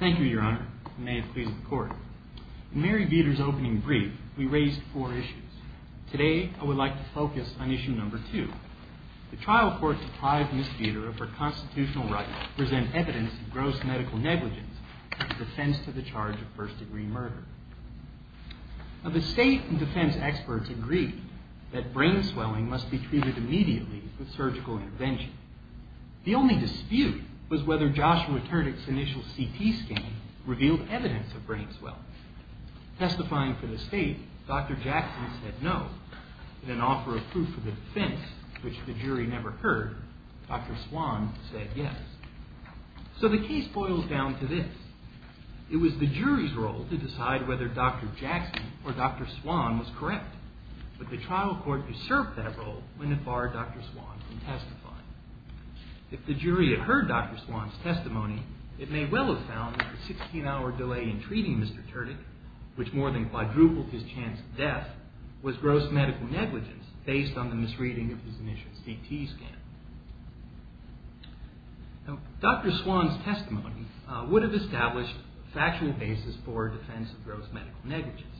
Thank you, Your Honor. May it please the Court. In Mary Vetor's opening brief, we raised four issues. Today, I would like to focus on issue number two. The trial court deprived Ms. Vetor of her constitutional right to present evidence of gross medical negligence in defense of the trial. The state and defense experts agreed that brain swelling must be treated immediately with surgical intervention. The only dispute was whether Joshua Turdick's initial CT scan revealed evidence of brain swelling. Testifying for the state, Dr. Jackson said no. In an offer of proof of defense, which the jury never heard, Dr. Swan said yes. So the case boils down to this. It was the jury's role to decide whether Dr. Jackson or Dr. Swan was correct, but the trial court usurped that role when it barred Dr. Swan from testifying. If the jury had heard Dr. Swan's testimony, it may well have found that the 16-hour delay in treating Mr. Turdick, which more than quadrupled his chance of death, was gross medical negligence based on the misreading of his initial CT scan. Now, Dr. Swan's testimony would have established a factual basis for defense of gross medical negligence.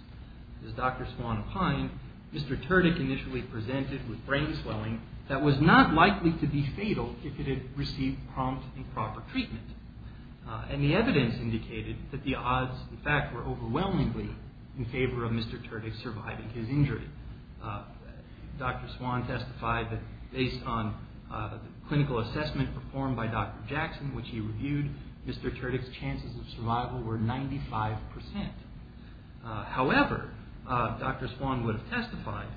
As Dr. Swan opined, Mr. Turdick initially presented with brain swelling that was not likely to be fatal if it had received prompt and proper treatment, and the evidence indicated that the odds, in fact, were overwhelmingly in favor of Mr. Turdick surviving his injury. Dr. Swan testified that based on the clinical assessment performed by Dr. Jackson, which he reviewed, Mr. Turdick's chances of survival were 95%. However, Dr. Swan would have testified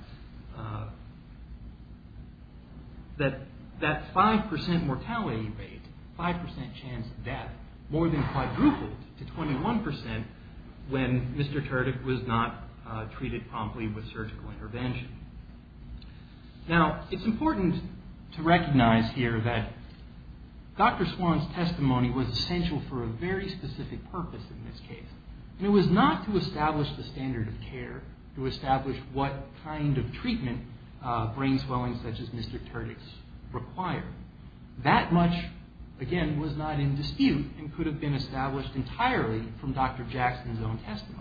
that that 5% mortality rate, 5% chance of death, more than quadrupled to 21% when Mr. Turdick was not treated promptly with surgical intervention. Now, it's important to recognize here that Dr. Swan's testimony was essential for a very specific purpose in this case, and it was not to establish the standard of care, to establish what kind of treatment brain swellings such as Mr. Turdick's require. That much, again, was not in dispute and could have been established entirely from Dr. Jackson's own testimony.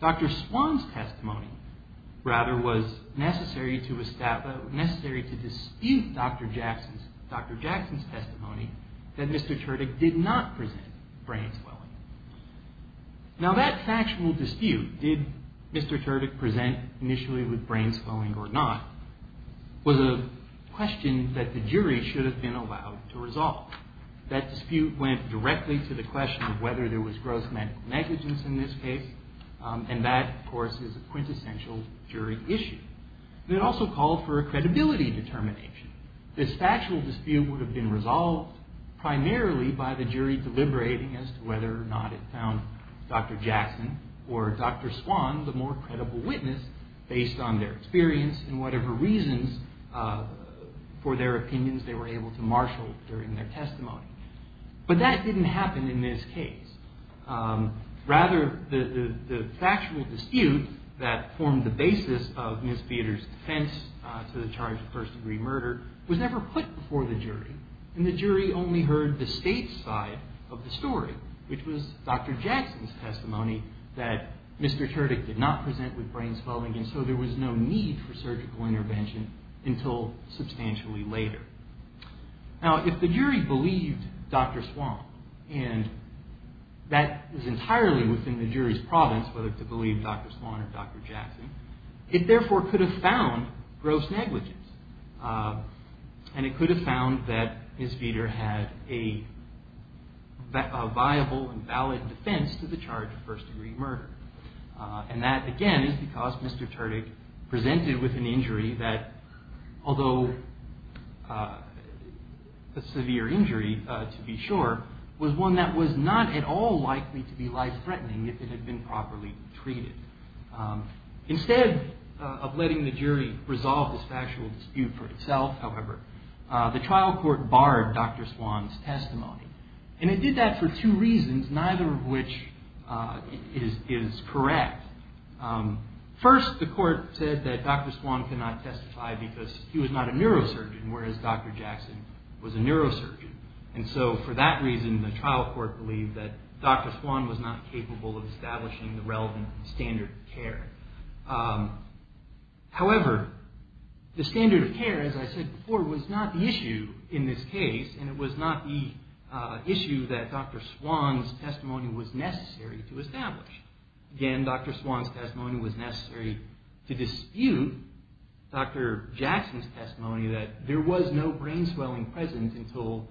Dr. Swan's testimony, rather, was necessary to dispute Dr. Jackson's testimony that Mr. Turdick did not present brain swelling. Now, that factual dispute, did Mr. Turdick present initially with brain swelling or not, was a question that the jury should have been allowed to resolve. That dispute went directly to the question of whether there was gross medical negligence in this case, and that, of course, is a quintessential jury issue. It also called for a credibility determination. This factual dispute would have been resolved primarily by the jury deliberating as to whether or not it found Dr. Jackson or Dr. Swan the more credible witness based on their experience and whatever reasons for their opinions they were able to marshal during their testimony. But that didn't happen in this case. Rather, the factual dispute that formed the basis of Ms. Beater's defense to the charge of first-degree murder was never put before the jury, and the jury only heard the state's side of the story, which was Dr. Jackson's testimony that Mr. Turdick did not present with brain swelling, and so there was no need for surgical intervention until substantially later. Now, if the jury believed Dr. Swan, and that is entirely within the jury's province, whether to believe Dr. Swan or Dr. Jackson, it therefore could have found gross negligence, and it could have found that Ms. Beater had a viable and valid defense to the charge of first-degree murder. And that, again, is because Mr. Turdick presented with an injury that, although a severe injury to be sure, was one that was not at all likely to be life-threatening if it had been properly treated. Instead of letting the jury resolve this factual dispute for itself, however, the trial court barred Dr. Swan's testimony, and it did that for two reasons, neither of which is correct. First, the court said that Dr. Swan could not testify because he was not a neurosurgeon, whereas Dr. Jackson was a neurosurgeon, and so for that reason, the trial court believed that Dr. Swan was not capable of establishing the relevant standard of care. However, the standard of care, as I said before, was not the issue in this case, and it was not the issue that Dr. Swan's testimony was necessary to establish. Again, Dr. Swan's testimony was necessary to dispute Dr. Jackson's testimony that there was no brain swelling present until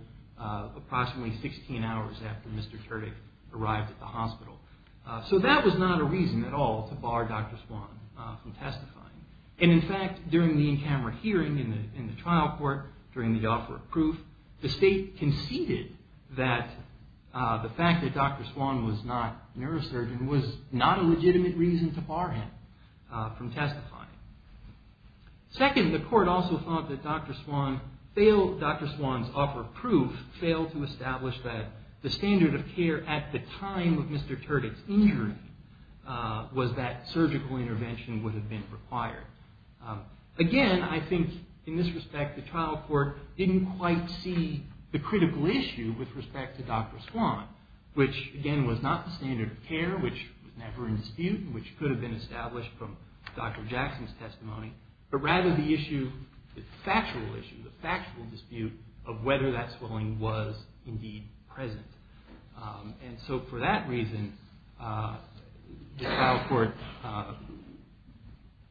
approximately 16 hours after Mr. Turdick arrived at the hospital. So that was not a reason at all to bar Dr. Swan from testifying. And in fact, during the in-camera hearing in the trial court, during the offer of proof, the state conceded that the fact that Dr. Swan was not a neurosurgeon was not a legitimate reason to bar him from testifying. Second, the court also thought that Dr. Swan's offer of proof failed to establish that the standard of care at the time of Mr. Turdick's injury was that surgical intervention would have been required. Again, I think in this respect, the trial court didn't quite see the critical issue with respect to Dr. Swan, which again was not the standard of care, which was never in dispute, and which could have been established from Dr. Jackson's testimony, but rather the issue, the factual issue, the factual dispute of whether that swelling was indeed present. And so for that reason, the trial court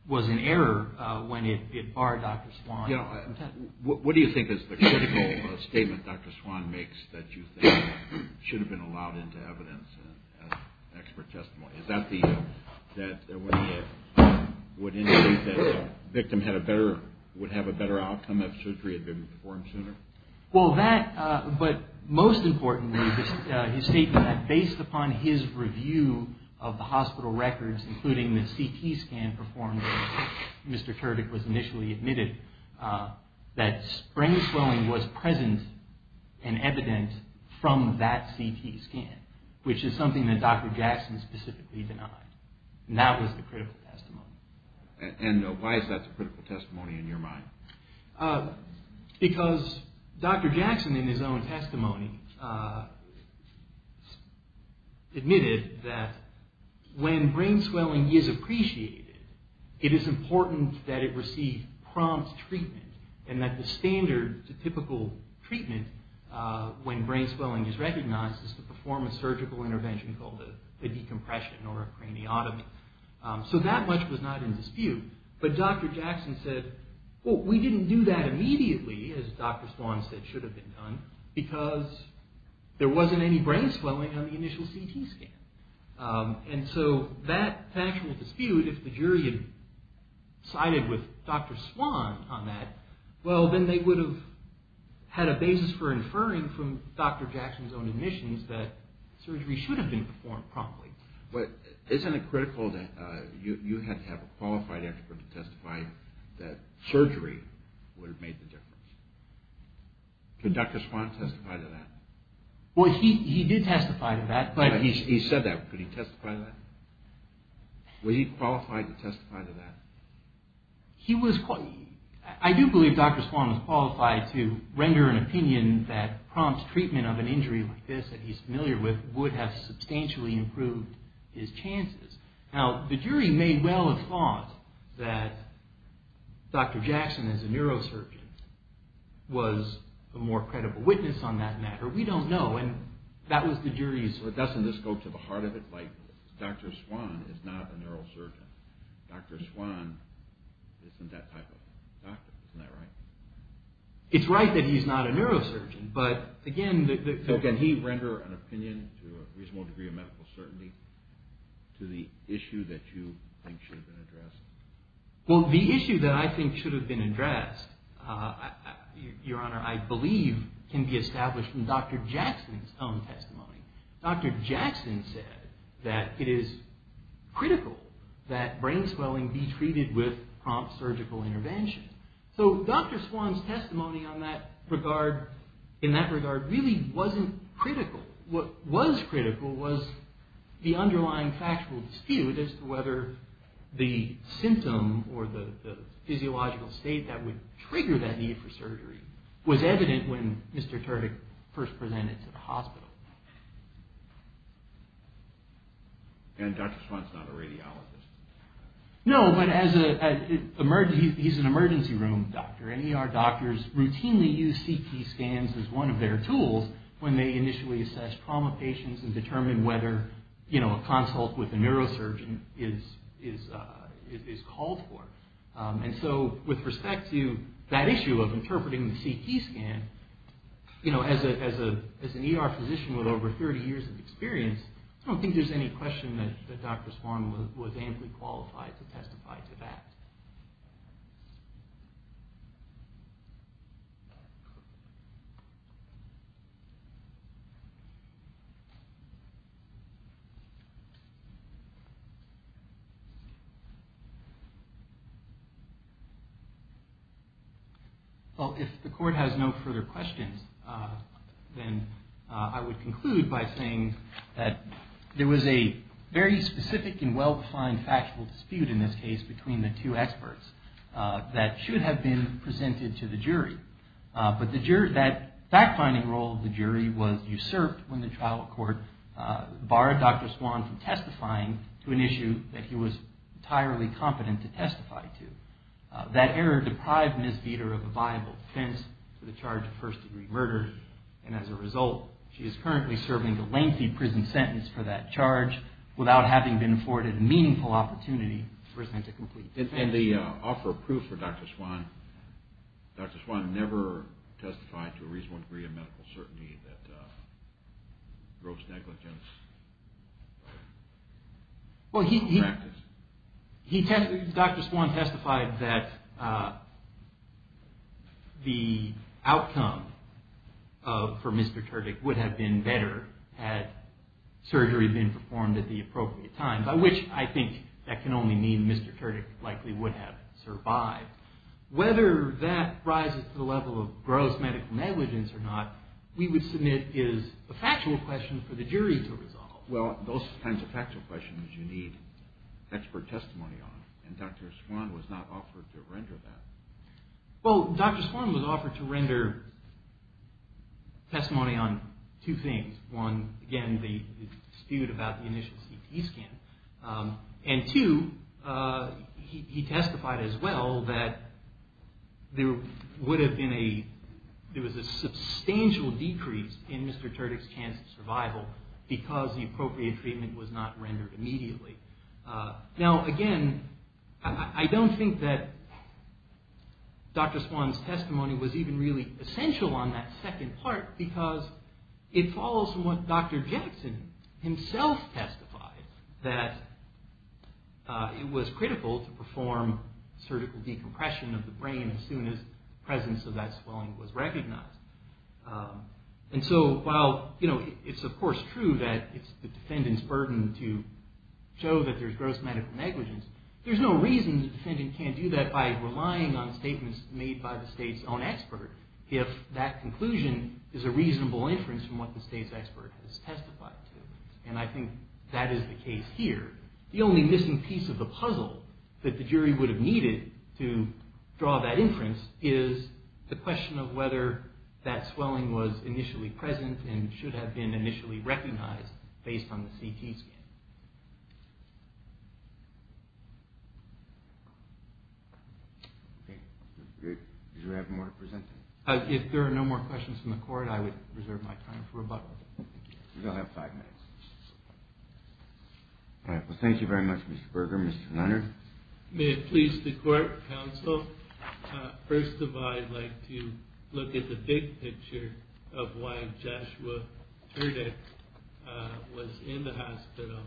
was in error when it barred Dr. Swan from testifying. What do you think is the critical statement Dr. Swan makes that you think should have been allowed into evidence as expert testimony? Is that that would indicate that the victim would have a better outcome if surgery had been performed sooner? Well that, but most importantly, his statement that based upon his review of the hospital records, including the CT scan performed when Mr. Turdick was initially admitted, that sprain swelling was present and evident from that CT scan, which is something that Dr. Jackson specifically denied. And that was the critical testimony. And why is that the critical testimony in your mind? Because Dr. Jackson in his own testimony admitted that when brain swelling is appreciated, it is important that it receive prompt treatment, and that the standard, the typical treatment when brain swelling is recognized is to perform a surgical intervention called a decompression or a craniotomy. So that much was not in dispute. But Dr. Jackson said, well, we didn't do that immediately, as Dr. Swan said should have been done, because there wasn't any brain swelling on the initial CT scan. And so that factual dispute, if the jury had sided with Dr. Swan on that, well, then they would have had a basis for inferring from Dr. Jackson's own admissions that surgery should have been performed promptly. But isn't it critical that you had to have a qualified expert to testify that surgery would have made the difference? Could Dr. Swan testify to that? Well, he did testify to that. He said that. Could he testify to that? Was he qualified to testify to that? He was – I do believe Dr. Swan was qualified to render an opinion that prompt treatment of an injury like this that he's familiar with would have substantially improved his chances. Now, the jury may well have thought that Dr. Jackson as a neurosurgeon was a more credible witness on that matter. We don't know. And that was the jury's – Dr. Swan is not a neurosurgeon. Dr. Swan isn't that type of doctor. Isn't that right? It's right that he's not a neurosurgeon, but again – So can he render an opinion to a reasonable degree of medical certainty to the issue that you think should have been addressed? Well, the issue that I think should have been addressed, Your Honor, I believe can be established from Dr. Jackson's own testimony. Dr. Jackson said that it is critical that brain swelling be treated with prompt surgical intervention. So Dr. Swan's testimony in that regard really wasn't critical. What was critical was the underlying factual dispute as to whether the symptom or the physiological state that would trigger that need for surgery was evident when Mr. Turdick first presented to the hospital. And Dr. Swan's not a radiologist. No, but he's an emergency room doctor. And ER doctors routinely use CT scans as one of their tools when they initially assess trauma patients and determine whether a consult with a neurosurgeon is called for. And so with respect to that issue of interpreting the CT scan, you know, as an ER physician with over 30 years of experience, I don't think there's any question that Dr. Swan was amply qualified to testify to that. Well, if the Court has no further questions, then I would conclude by saying that there was a very specific and well-defined factual dispute in this case between the two experts that should have been presented to the jury. But that fact-finding role of the jury was usurped when the trial court barred Dr. Swan from testifying to an issue that he was entirely competent to testify to. That error deprived Ms. Veeder of a viable defense for the charge of first-degree murder. And as a result, she is currently serving a lengthy prison sentence for that charge without having been afforded a meaningful opportunity to present a complete defense. And the offer of proof for Dr. Swan, Dr. Swan never testified to a reasonable degree of medical certainty that gross negligence of practice. Dr. Swan testified that the outcome for Mr. Turdick would have been better had surgery been performed at the appropriate time, by which I think that can only mean Mr. Turdick likely would have survived. Whether that rises to the level of gross medical negligence or not, we would submit is a factual question for the jury to resolve. Well, those kinds of factual questions you need expert testimony on, and Dr. Swan was not offered to render that. Well, Dr. Swan was offered to render testimony on two things. One, again, the dispute about the initial CT scan, and two, he testified as well that there would have been a, there was a substantial decrease in Mr. Turdick's chance of survival because the appropriate treatment was not rendered immediately. Now, again, I don't think that Dr. Swan's testimony was even really essential on that second part because it follows from what Dr. Jackson himself testified, that it was critical to perform surgical decompression of the brain as soon as the presence of that swelling was recognized. And so while, you know, it's of course true that it's the defendant's burden to show that there's gross medical negligence, there's no reason the defendant can't do that by relying on statements made by the State's own expert if that conclusion is a reasonable inference from what the State's expert has testified to, and I think that is the case here. The only missing piece of the puzzle that the jury would have needed to draw that inference is the question of whether that swelling was initially present and should have been initially recognized based on the CT scan. Do you have more to present? If there are no more questions from the court, I would reserve my time for rebuttal. You'll have five minutes. Thank you very much, Mr. Berger. Mr. Leonard? May it please the court, counsel, first of all, I'd like to look at the big picture of why Joshua Turdick was in the hospital.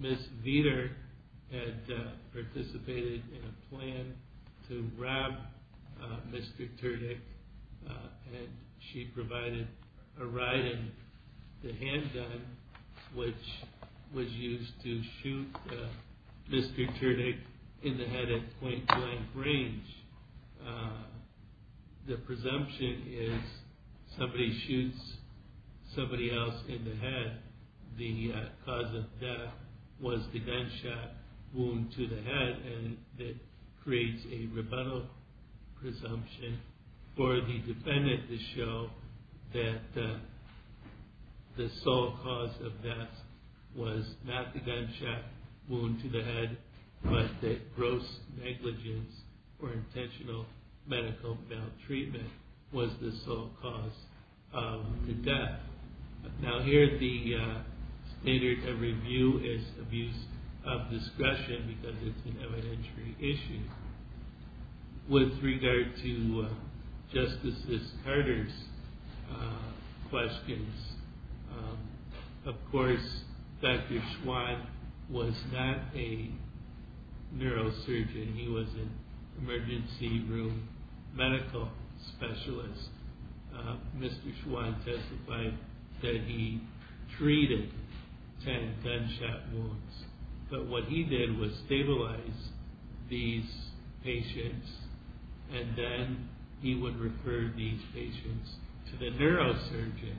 Ms. Veder had participated in a plan to rob Mr. Turdick, and she provided a ride in the handgun, which was used to shoot Mr. Turdick in the head at point blank range. The presumption is somebody shoots somebody else in the head, the cause of death was the gunshot wound to the head, and it creates a rebuttal presumption for the defendant to show that the sole cause of death was not the gunshot wound to the head, but that gross negligence or intentional medical maltreatment was the sole cause of the death. Now here the standard of review is abuse of discretion because it's an evidentiary issue. With regard to Justice Carter's questions, of course, Dr. Schwandt was not a neurosurgeon, he was an emergency room medical specialist. Mr. Schwandt testified that he treated 10 gunshot wounds, but what he did was stabilize these patients, and then he would refer these patients to the neurosurgeon.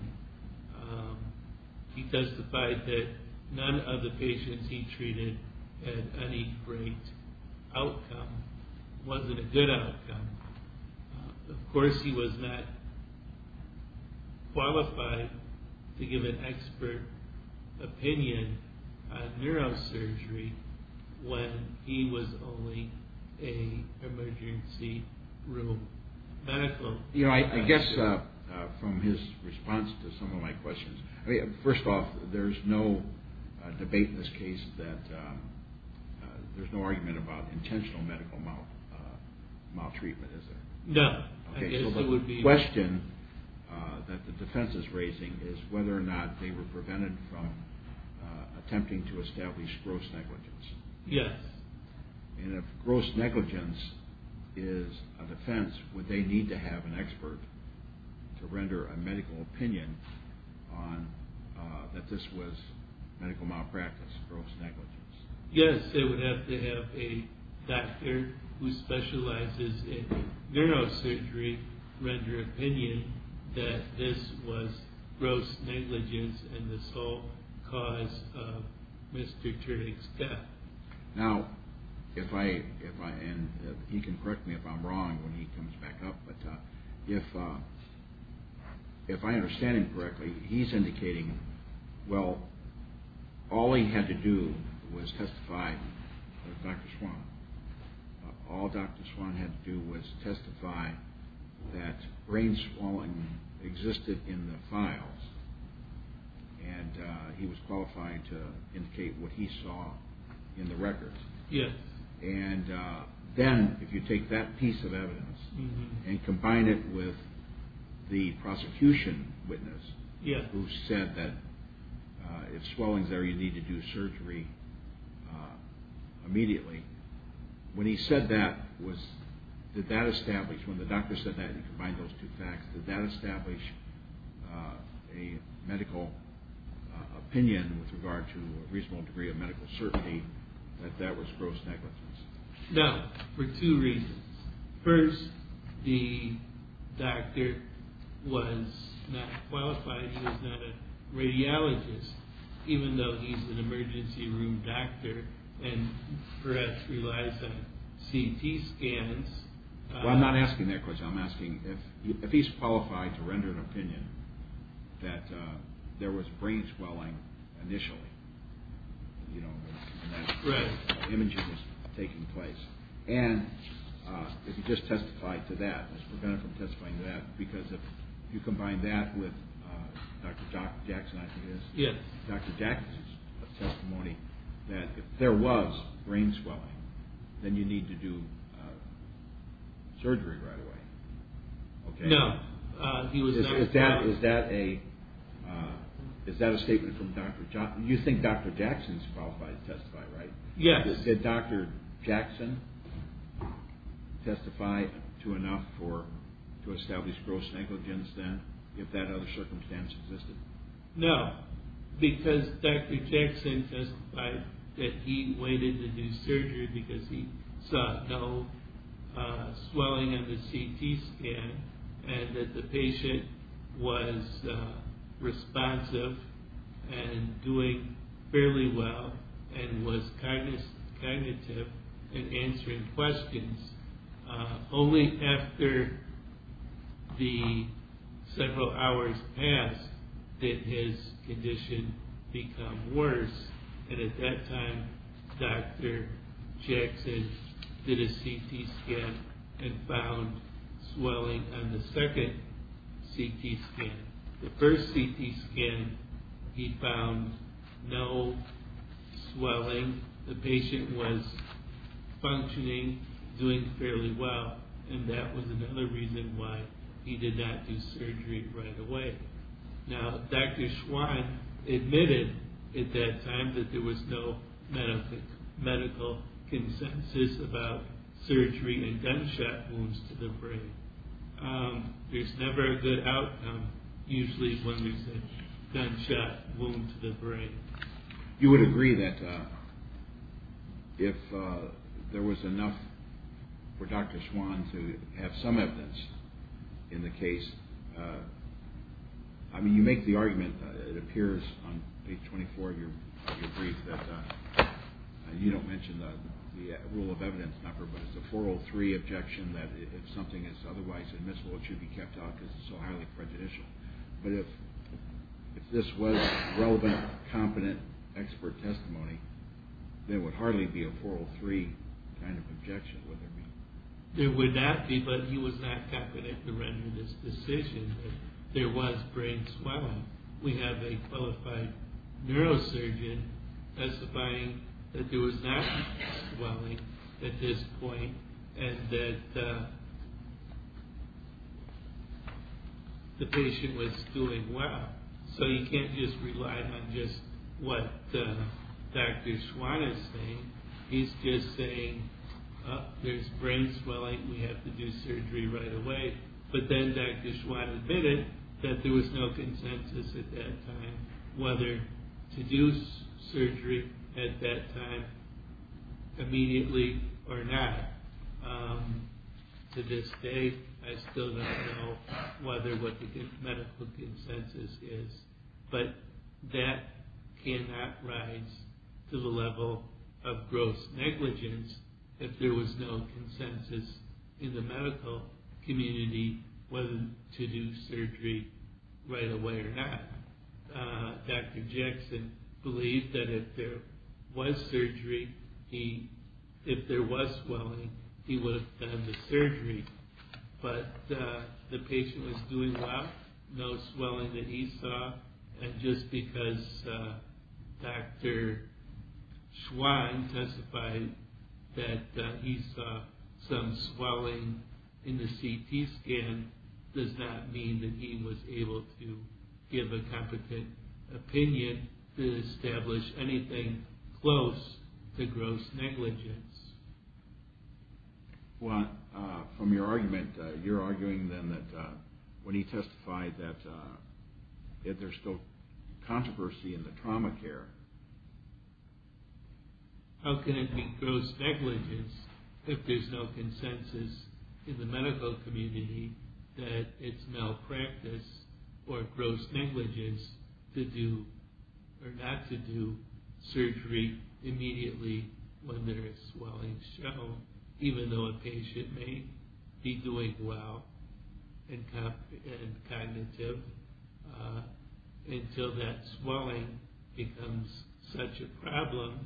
He testified that none of the patients he treated had any great outcome, wasn't a good outcome. Of course, he was not qualified to give an expert opinion on neurosurgery when he was only an emergency room medical specialist. I guess from his response to some of my questions, first off, there's no debate in this case that there's no argument about intentional medical maltreatment, is there? No. Okay, so the question that the defense is raising is whether or not they were prevented from attempting to establish gross negligence. Yes. And if gross negligence is a defense, would they need to have an expert to render a medical opinion that this was medical malpractice, gross negligence? Yes, they would have to have a doctor who specializes in neurosurgery render opinion that this was gross negligence and the sole cause of Mr. Turing's death. Now, if I, and he can correct me if I'm wrong when he comes back up, but if I understand him correctly, he's indicating, well, all he had to do was testify to Dr. Swan. All Dr. Swan had to do was testify that brain swelling existed in the files and he was qualified to indicate what he saw in the records. Yes. And then if you take that piece of evidence and combine it with the prosecution witness who said that if swelling's there, you need to do surgery immediately. When he said that, did that establish, when the doctor said that and he combined those two facts, did that establish a medical opinion with regard to a reasonable degree of medical certainty that that was gross negligence? No, for two reasons. First, the doctor was not qualified, he was not a radiologist, even though he's an emergency room doctor and perhaps relies on CT scans. Well, I'm not asking that question. I'm asking if he's qualified to render an opinion that there was brain swelling initially. Right. And if he just testified to that, because if you combine that with Dr. Jackson, Dr. Jackson's testimony that if there was brain swelling, then you need to do surgery right away. No. Is that a statement from Dr. Jackson? You think Dr. Jackson's qualified to testify, right? Yes. Did Dr. Jackson testify to enough to establish gross negligence then if that other circumstance existed? No, because Dr. Jackson testified that he waited to do surgery because he saw no swelling in the CT scan and that the patient was responsive and doing fairly well and was cognitive in answering questions. Only after the several hours passed did his condition become worse and at that time Dr. Jackson did a CT scan and found swelling on the second CT scan. The first CT scan he found no swelling. The patient was functioning, doing fairly well, and that was another reason why he did not do surgery right away. Now Dr. Schwann admitted at that time that there was no medical consensus about surgery and gunshot wounds to the brain. There's never a good outcome usually when there's a gunshot wound to the brain. You would agree that if there was enough for Dr. Schwann to have some evidence in the case, I mean you make the argument, it appears on page 24 of your brief, that you don't mention the rule of evidence number, but it's a 403 objection that if something is otherwise admissible it should be kept out because it's so highly prejudicial. But if this was relevant, competent, expert testimony, there would hardly be a 403 kind of objection would there be? There would not be, but he was not competent to render this decision that there was brain swelling. We have a qualified neurosurgeon testifying that there was not brain swelling at this point and that the patient was doing well. So you can't just rely on what Dr. Schwann is saying. He's just saying there's brain swelling, we have to do surgery right away. But then Dr. Schwann admitted that there was no consensus at that time whether to do surgery at that time immediately or not. To this day I still don't know whether what the medical consensus is, but that cannot rise to the level of gross negligence if there was no consensus in the medical community whether to do surgery right away or not. Dr. Jackson believed that if there was surgery, if there was swelling, he would have done the surgery. But the patient was doing well, no swelling that he saw, and just because Dr. Schwann testified that he saw some swelling in the CT scan does not mean that he was able to give a competent opinion to establish anything close to gross negligence. Well, from your argument, you're arguing then that when he testified that there's still controversy in the trauma care. How can it be gross negligence if there's no consensus in the medical community that it's malpractice or gross negligence to do or not to do surgery immediately when there is swelling shown, even though a patient may be doing well and cognitive until that swelling becomes such a problem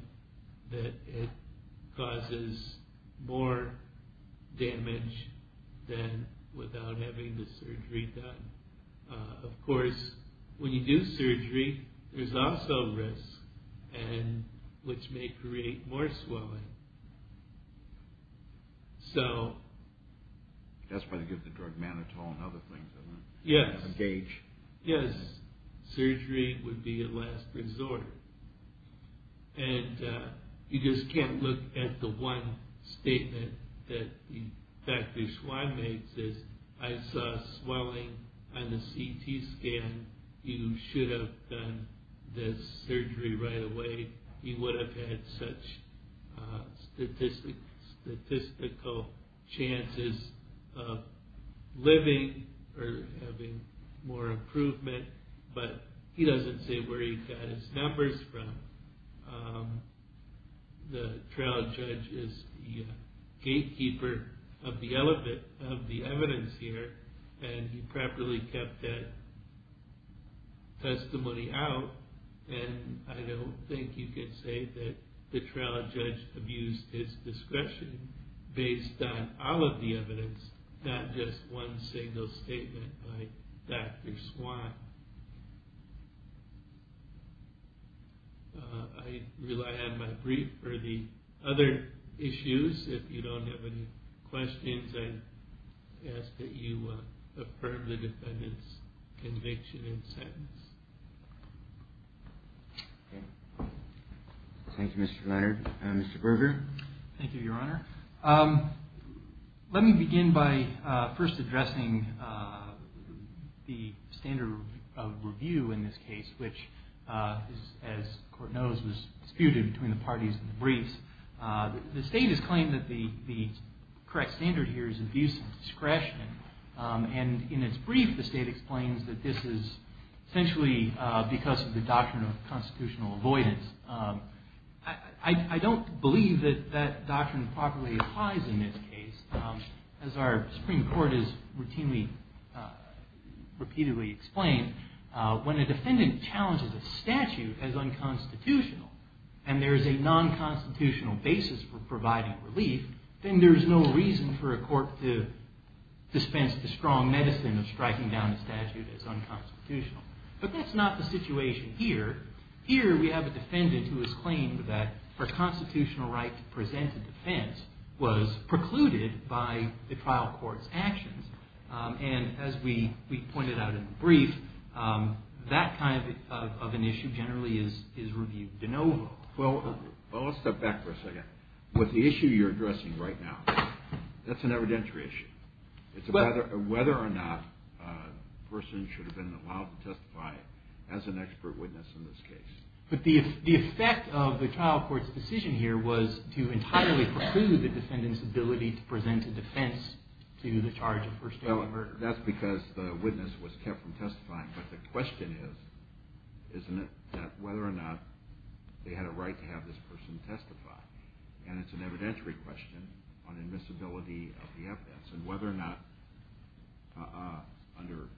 that it causes more damage than without having the surgery done. Of course, when you do surgery, there's also risk, which may create more swelling. That's why they give the drug Manitoulin and other things, isn't it? Yes. A gauge. Yes. Surgery would be a last resort. And you just can't look at the one statement that Dr. Schwann makes, is, I saw swelling on the CT scan, you should have done the surgery right away. He would have had such statistical chances of living or having more improvement, but he doesn't say where he got his numbers from. The trial judge is the gatekeeper of the evidence here, and he properly kept that testimony out. And I don't think you can say that the trial judge abused his discretion based on all of the evidence, not just one single statement by Dr. Schwann. I rely on my brief for the other issues. If you don't have any questions, I ask that you affirm the defendant's conviction and sentence. Thank you, Mr. Leierd. Mr. Berger? Thank you, Your Honor. Let me begin by first addressing the standard of review in this case, which, as the Court knows, was disputed between the parties in the briefs. The State has claimed that the correct standard here is abuse of discretion. And in its brief, the State explains that this is essentially because of the doctrine of constitutional avoidance. I don't believe that that doctrine properly applies in this case. As our Supreme Court has routinely repeatedly explained, when a defendant challenges a statute as unconstitutional, and there is a non-constitutional basis for providing relief, then there is no reason for a court to dispense the strong medicine of striking down a statute as unconstitutional. But that's not the situation here. Here we have a defendant who has claimed that her constitutional right to present a defense was precluded by the trial court's actions. And as we pointed out in the brief, that kind of an issue generally is reviewed de novo. Well, let's step back for a second. With the issue you're addressing right now, that's an evidentiary issue. It's whether or not a person should have been allowed to testify as an expert witness in this case. But the effect of the trial court's decision here was to entirely preclude the defendant's ability to present a defense to the charge of first-degree murder. Well, that's because the witness was kept from testifying. But the question is, isn't it, that whether or not they had a right to have this person testify? And it's an evidentiary question on admissibility of the evidence and whether or not under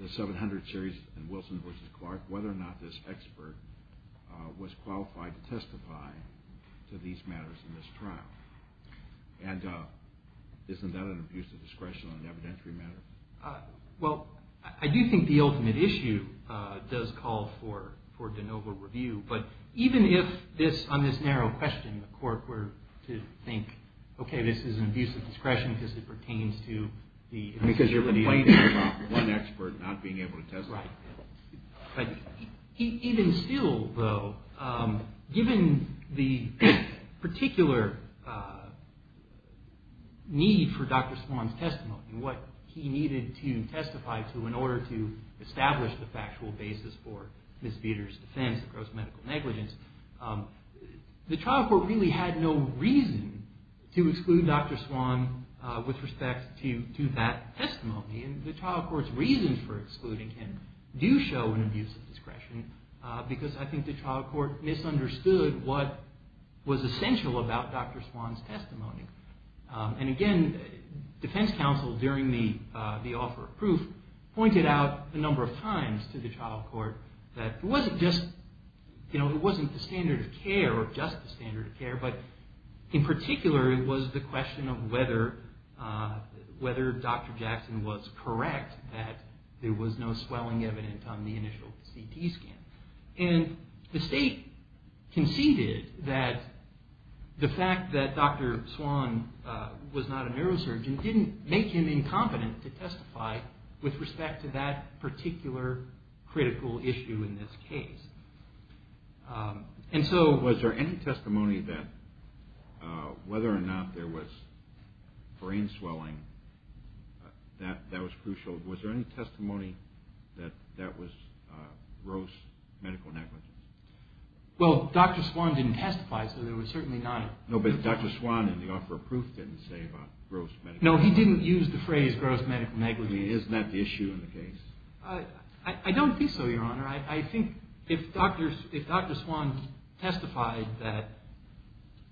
the 700 series in Wilson v. Clark, whether or not this expert was qualified to testify to these matters in this trial. And isn't that an abuse of discretion on an evidentiary matter? Well, I do think the ultimate issue does call for de novo review. But even if on this narrow question the court were to think, okay, this is an abuse of discretion because it pertains to the- Because you're complaining about one expert not being able to testify. Right. Even still, though, given the particular need for Dr. Swan's testimony, what he needed to testify to in order to establish the factual basis for Ms. Vietor's defense of gross medical negligence, the trial court really had no reason to exclude Dr. Swan with respect to that testimony. And the trial court's reasons for excluding him do show an abuse of discretion because I think the trial court misunderstood what was essential about Dr. Swan's testimony. And again, defense counsel during the offer of proof pointed out a number of times to the trial court that it wasn't just- But in particular, it was the question of whether Dr. Jackson was correct that there was no swelling evident on the initial CT scan. And the state conceded that the fact that Dr. Swan was not a neurosurgeon didn't make him incompetent to testify with respect to that particular critical issue in this case. And so- Was there any testimony that whether or not there was brain swelling that was crucial? Was there any testimony that that was gross medical negligence? Well, Dr. Swan didn't testify, so there was certainly not- No, but Dr. Swan in the offer of proof didn't say about gross medical negligence. No, he didn't use the phrase gross medical negligence. I mean, isn't that the issue in the case? I don't think so, Your Honor. I think if Dr. Swan testified that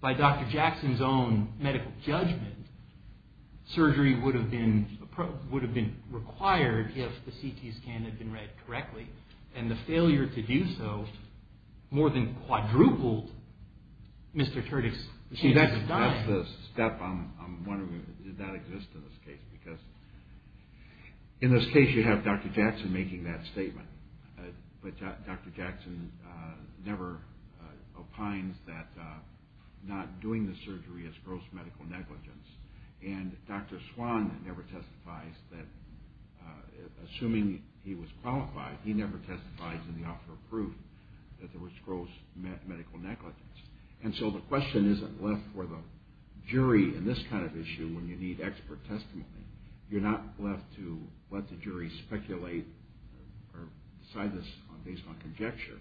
by Dr. Jackson's own medical judgment, surgery would have been required if the CT scan had been read correctly, and the failure to do so more than quadrupled Mr. Turdick's chance of dying- See, that's the step I'm wondering, does that exist in this case? Because in this case, you have Dr. Jackson making that statement, but Dr. Jackson never opines that not doing the surgery is gross medical negligence. And Dr. Swan never testifies that, assuming he was qualified, he never testifies in the offer of proof that there was gross medical negligence. And so the question isn't left for the jury in this kind of issue when you need expert testimony. You're not left to let the jury speculate or decide this based on conjecture.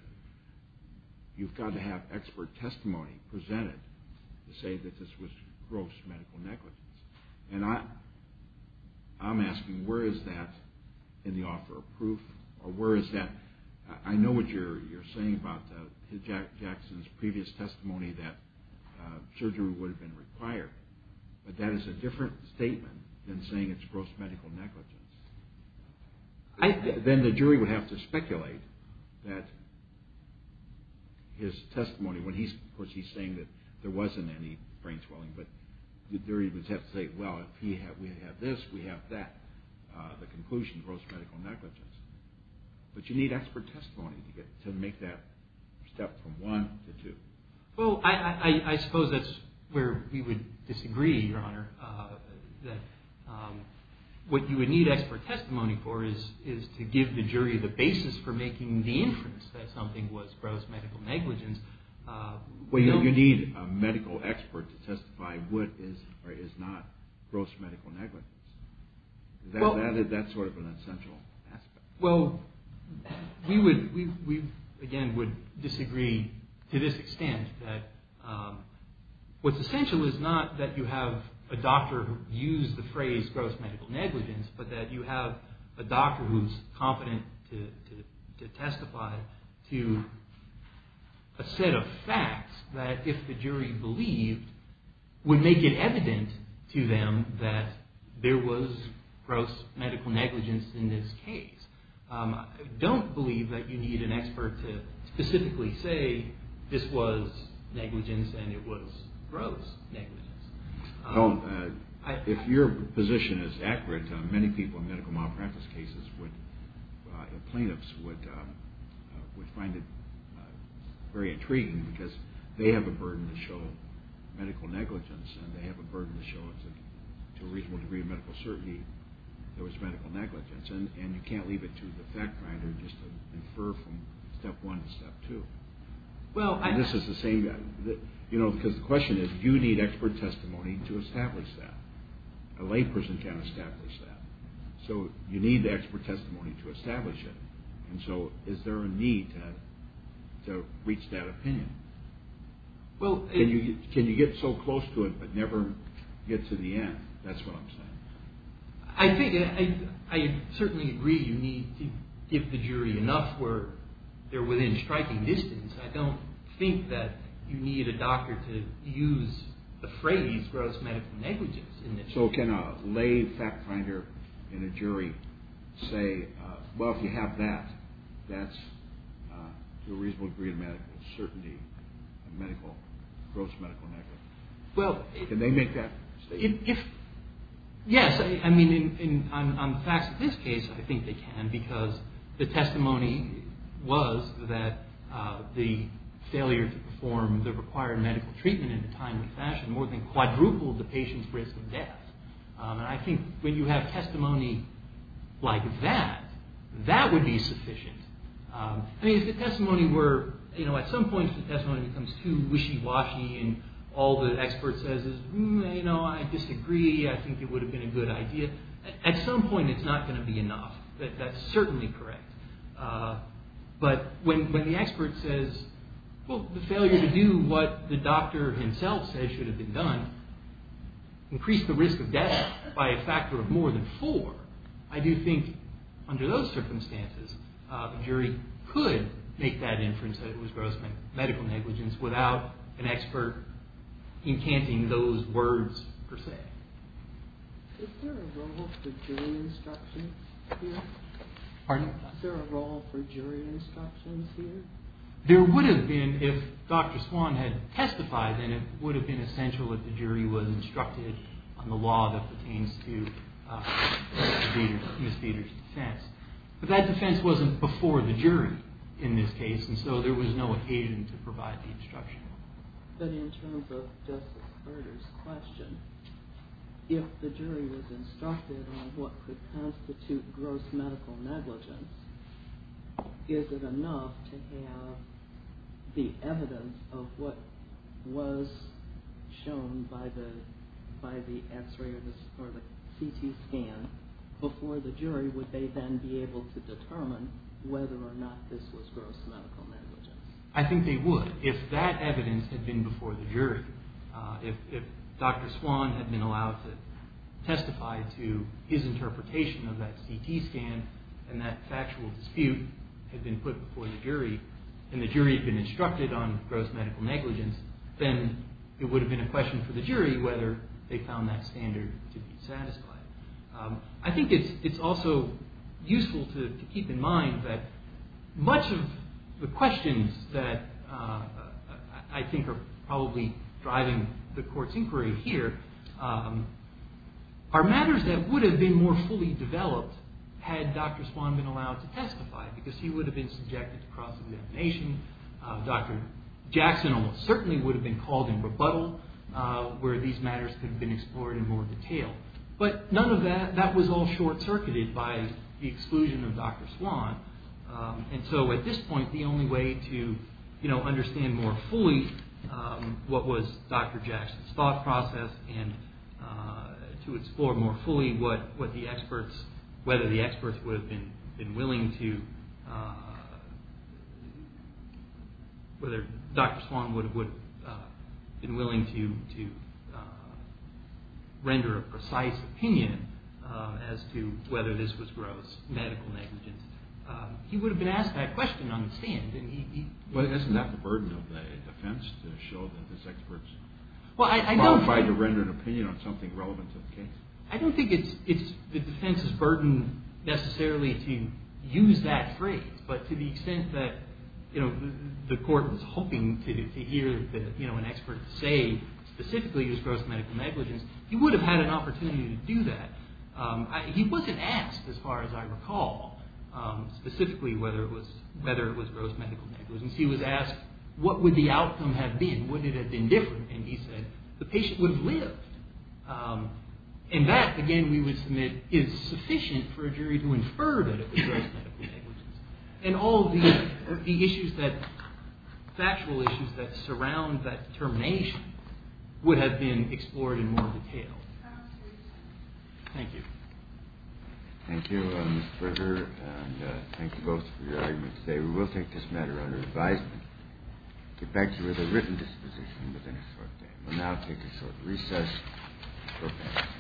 You've got to have expert testimony presented to say that this was gross medical negligence. And I'm asking, where is that in the offer of proof, or where is that- I know what you're saying about Jackson's previous testimony that surgery would have been required, but that is a different statement than saying it's gross medical negligence. Then the jury would have to speculate that his testimony, of course he's saying that there wasn't any brain swelling, but the jury would have to say, well, if we have this, we have that, the conclusion, gross medical negligence. But you need expert testimony to make that step from one to two. Well, I suppose that's where we would disagree, Your Honor, that what you would need expert testimony for is to give the jury the basis for making the inference that something was gross medical negligence. Well, you need a medical expert to testify what is or is not gross medical negligence. That's sort of an essential aspect. Well, we again would disagree to this extent, that what's essential is not that you have a doctor use the phrase gross medical negligence, but that you have a doctor who's competent to testify to a set of facts that if the jury believed would make it evident to them that there was gross medical negligence in this case. I don't believe that you need an expert to specifically say this was negligence and it was gross negligence. Well, if your position is accurate, many people in medical malpractice cases, the plaintiffs would find it very intriguing because they have a burden to show medical negligence and they have a burden to show to a reasonable degree of medical certainty there was medical negligence. And you can't leave it to the fact finder just to infer from step one to step two. This is the same, you know, because the question is you need expert testimony to establish that. A layperson can't establish that. So you need the expert testimony to establish it. And so is there a need to reach that opinion? Can you get so close to it but never get to the end? That's what I'm saying. I certainly agree you need to give the jury enough where they're within striking distance. I don't think that you need a doctor to use the phrase gross medical negligence in this. So can a lay fact finder and a jury say, well, if you have that, that's to a reasonable degree of medical certainty gross medical negligence? Can they make that statement? Yes. I mean, on the facts of this case, I think they can because the testimony was that the failure to perform the required medical treatment in a timely fashion more than quadrupled the patient's risk of death. And I think when you have testimony like that, that would be sufficient. I mean, if the testimony were, you know, at some point the testimony becomes too wishy-washy and all the expert says is, you know, I disagree. I think it would have been a good idea. At some point it's not going to be enough. That's certainly correct. But when the expert says, well, the failure to do what the doctor himself says should have been done increased the risk of death by a factor of more than four, I do think under those circumstances the jury could make that inference that it was gross medical negligence without an expert encanting those words per se. Is there a role for jury instructions here? Pardon? Is there a role for jury instructions here? There would have been if Dr. Swan had testified, and it would have been essential if the jury was instructed on the law that pertains to Ms. Beder's defense. But that defense wasn't before the jury in this case, and so there was no occasion to provide the instruction. But in terms of Justice Berger's question, if the jury was instructed on what could constitute gross medical negligence, is it enough to have the evidence of what was shown by the X-ray or the CT scan before the jury? Would they then be able to determine whether or not this was gross medical negligence? I think they would. But if that evidence had been before the jury, if Dr. Swan had been allowed to testify to his interpretation of that CT scan and that factual dispute had been put before the jury, and the jury had been instructed on gross medical negligence, then it would have been a question for the jury whether they found that standard to be satisfied. I think it's also useful to keep in mind that much of the questions that I think are probably driving the Court's inquiry here are matters that would have been more fully developed had Dr. Swan been allowed to testify, because he would have been subjected to cross-examination. Dr. Jackson certainly would have been called in rebuttal where these matters could have been explored in more detail. But none of that was all short-circuited by the exclusion of Dr. Swan. So at this point, the only way to understand more fully what was Dr. Jackson's thought process and to explore more fully whether Dr. Swan would have been willing to render a precise opinion as to whether this was gross medical negligence, he would have been asked that question on the stand. Isn't that the burden of the defense to show that this expert's qualified to render an opinion on something relevant to the case? I don't think it's the defense's burden necessarily to use that phrase, but to the extent that the Court was hoping to hear an expert say specifically it was gross medical negligence, he would have had an opportunity to do that. He wasn't asked, as far as I recall, specifically whether it was gross medical negligence. He was asked, what would the outcome have been? Would it have been different? And he said, the patient would have lived. And that, again, we would submit is sufficient for a jury to infer that it was gross medical negligence. And all of the issues that, factual issues that surround that termination would have been explored in more detail. Thank you. Thank you, Mr. Berger, and thank you both for your arguments today. We will take this matter under advisement. We thank you with a written disposition within a short time. We'll now take a short recess.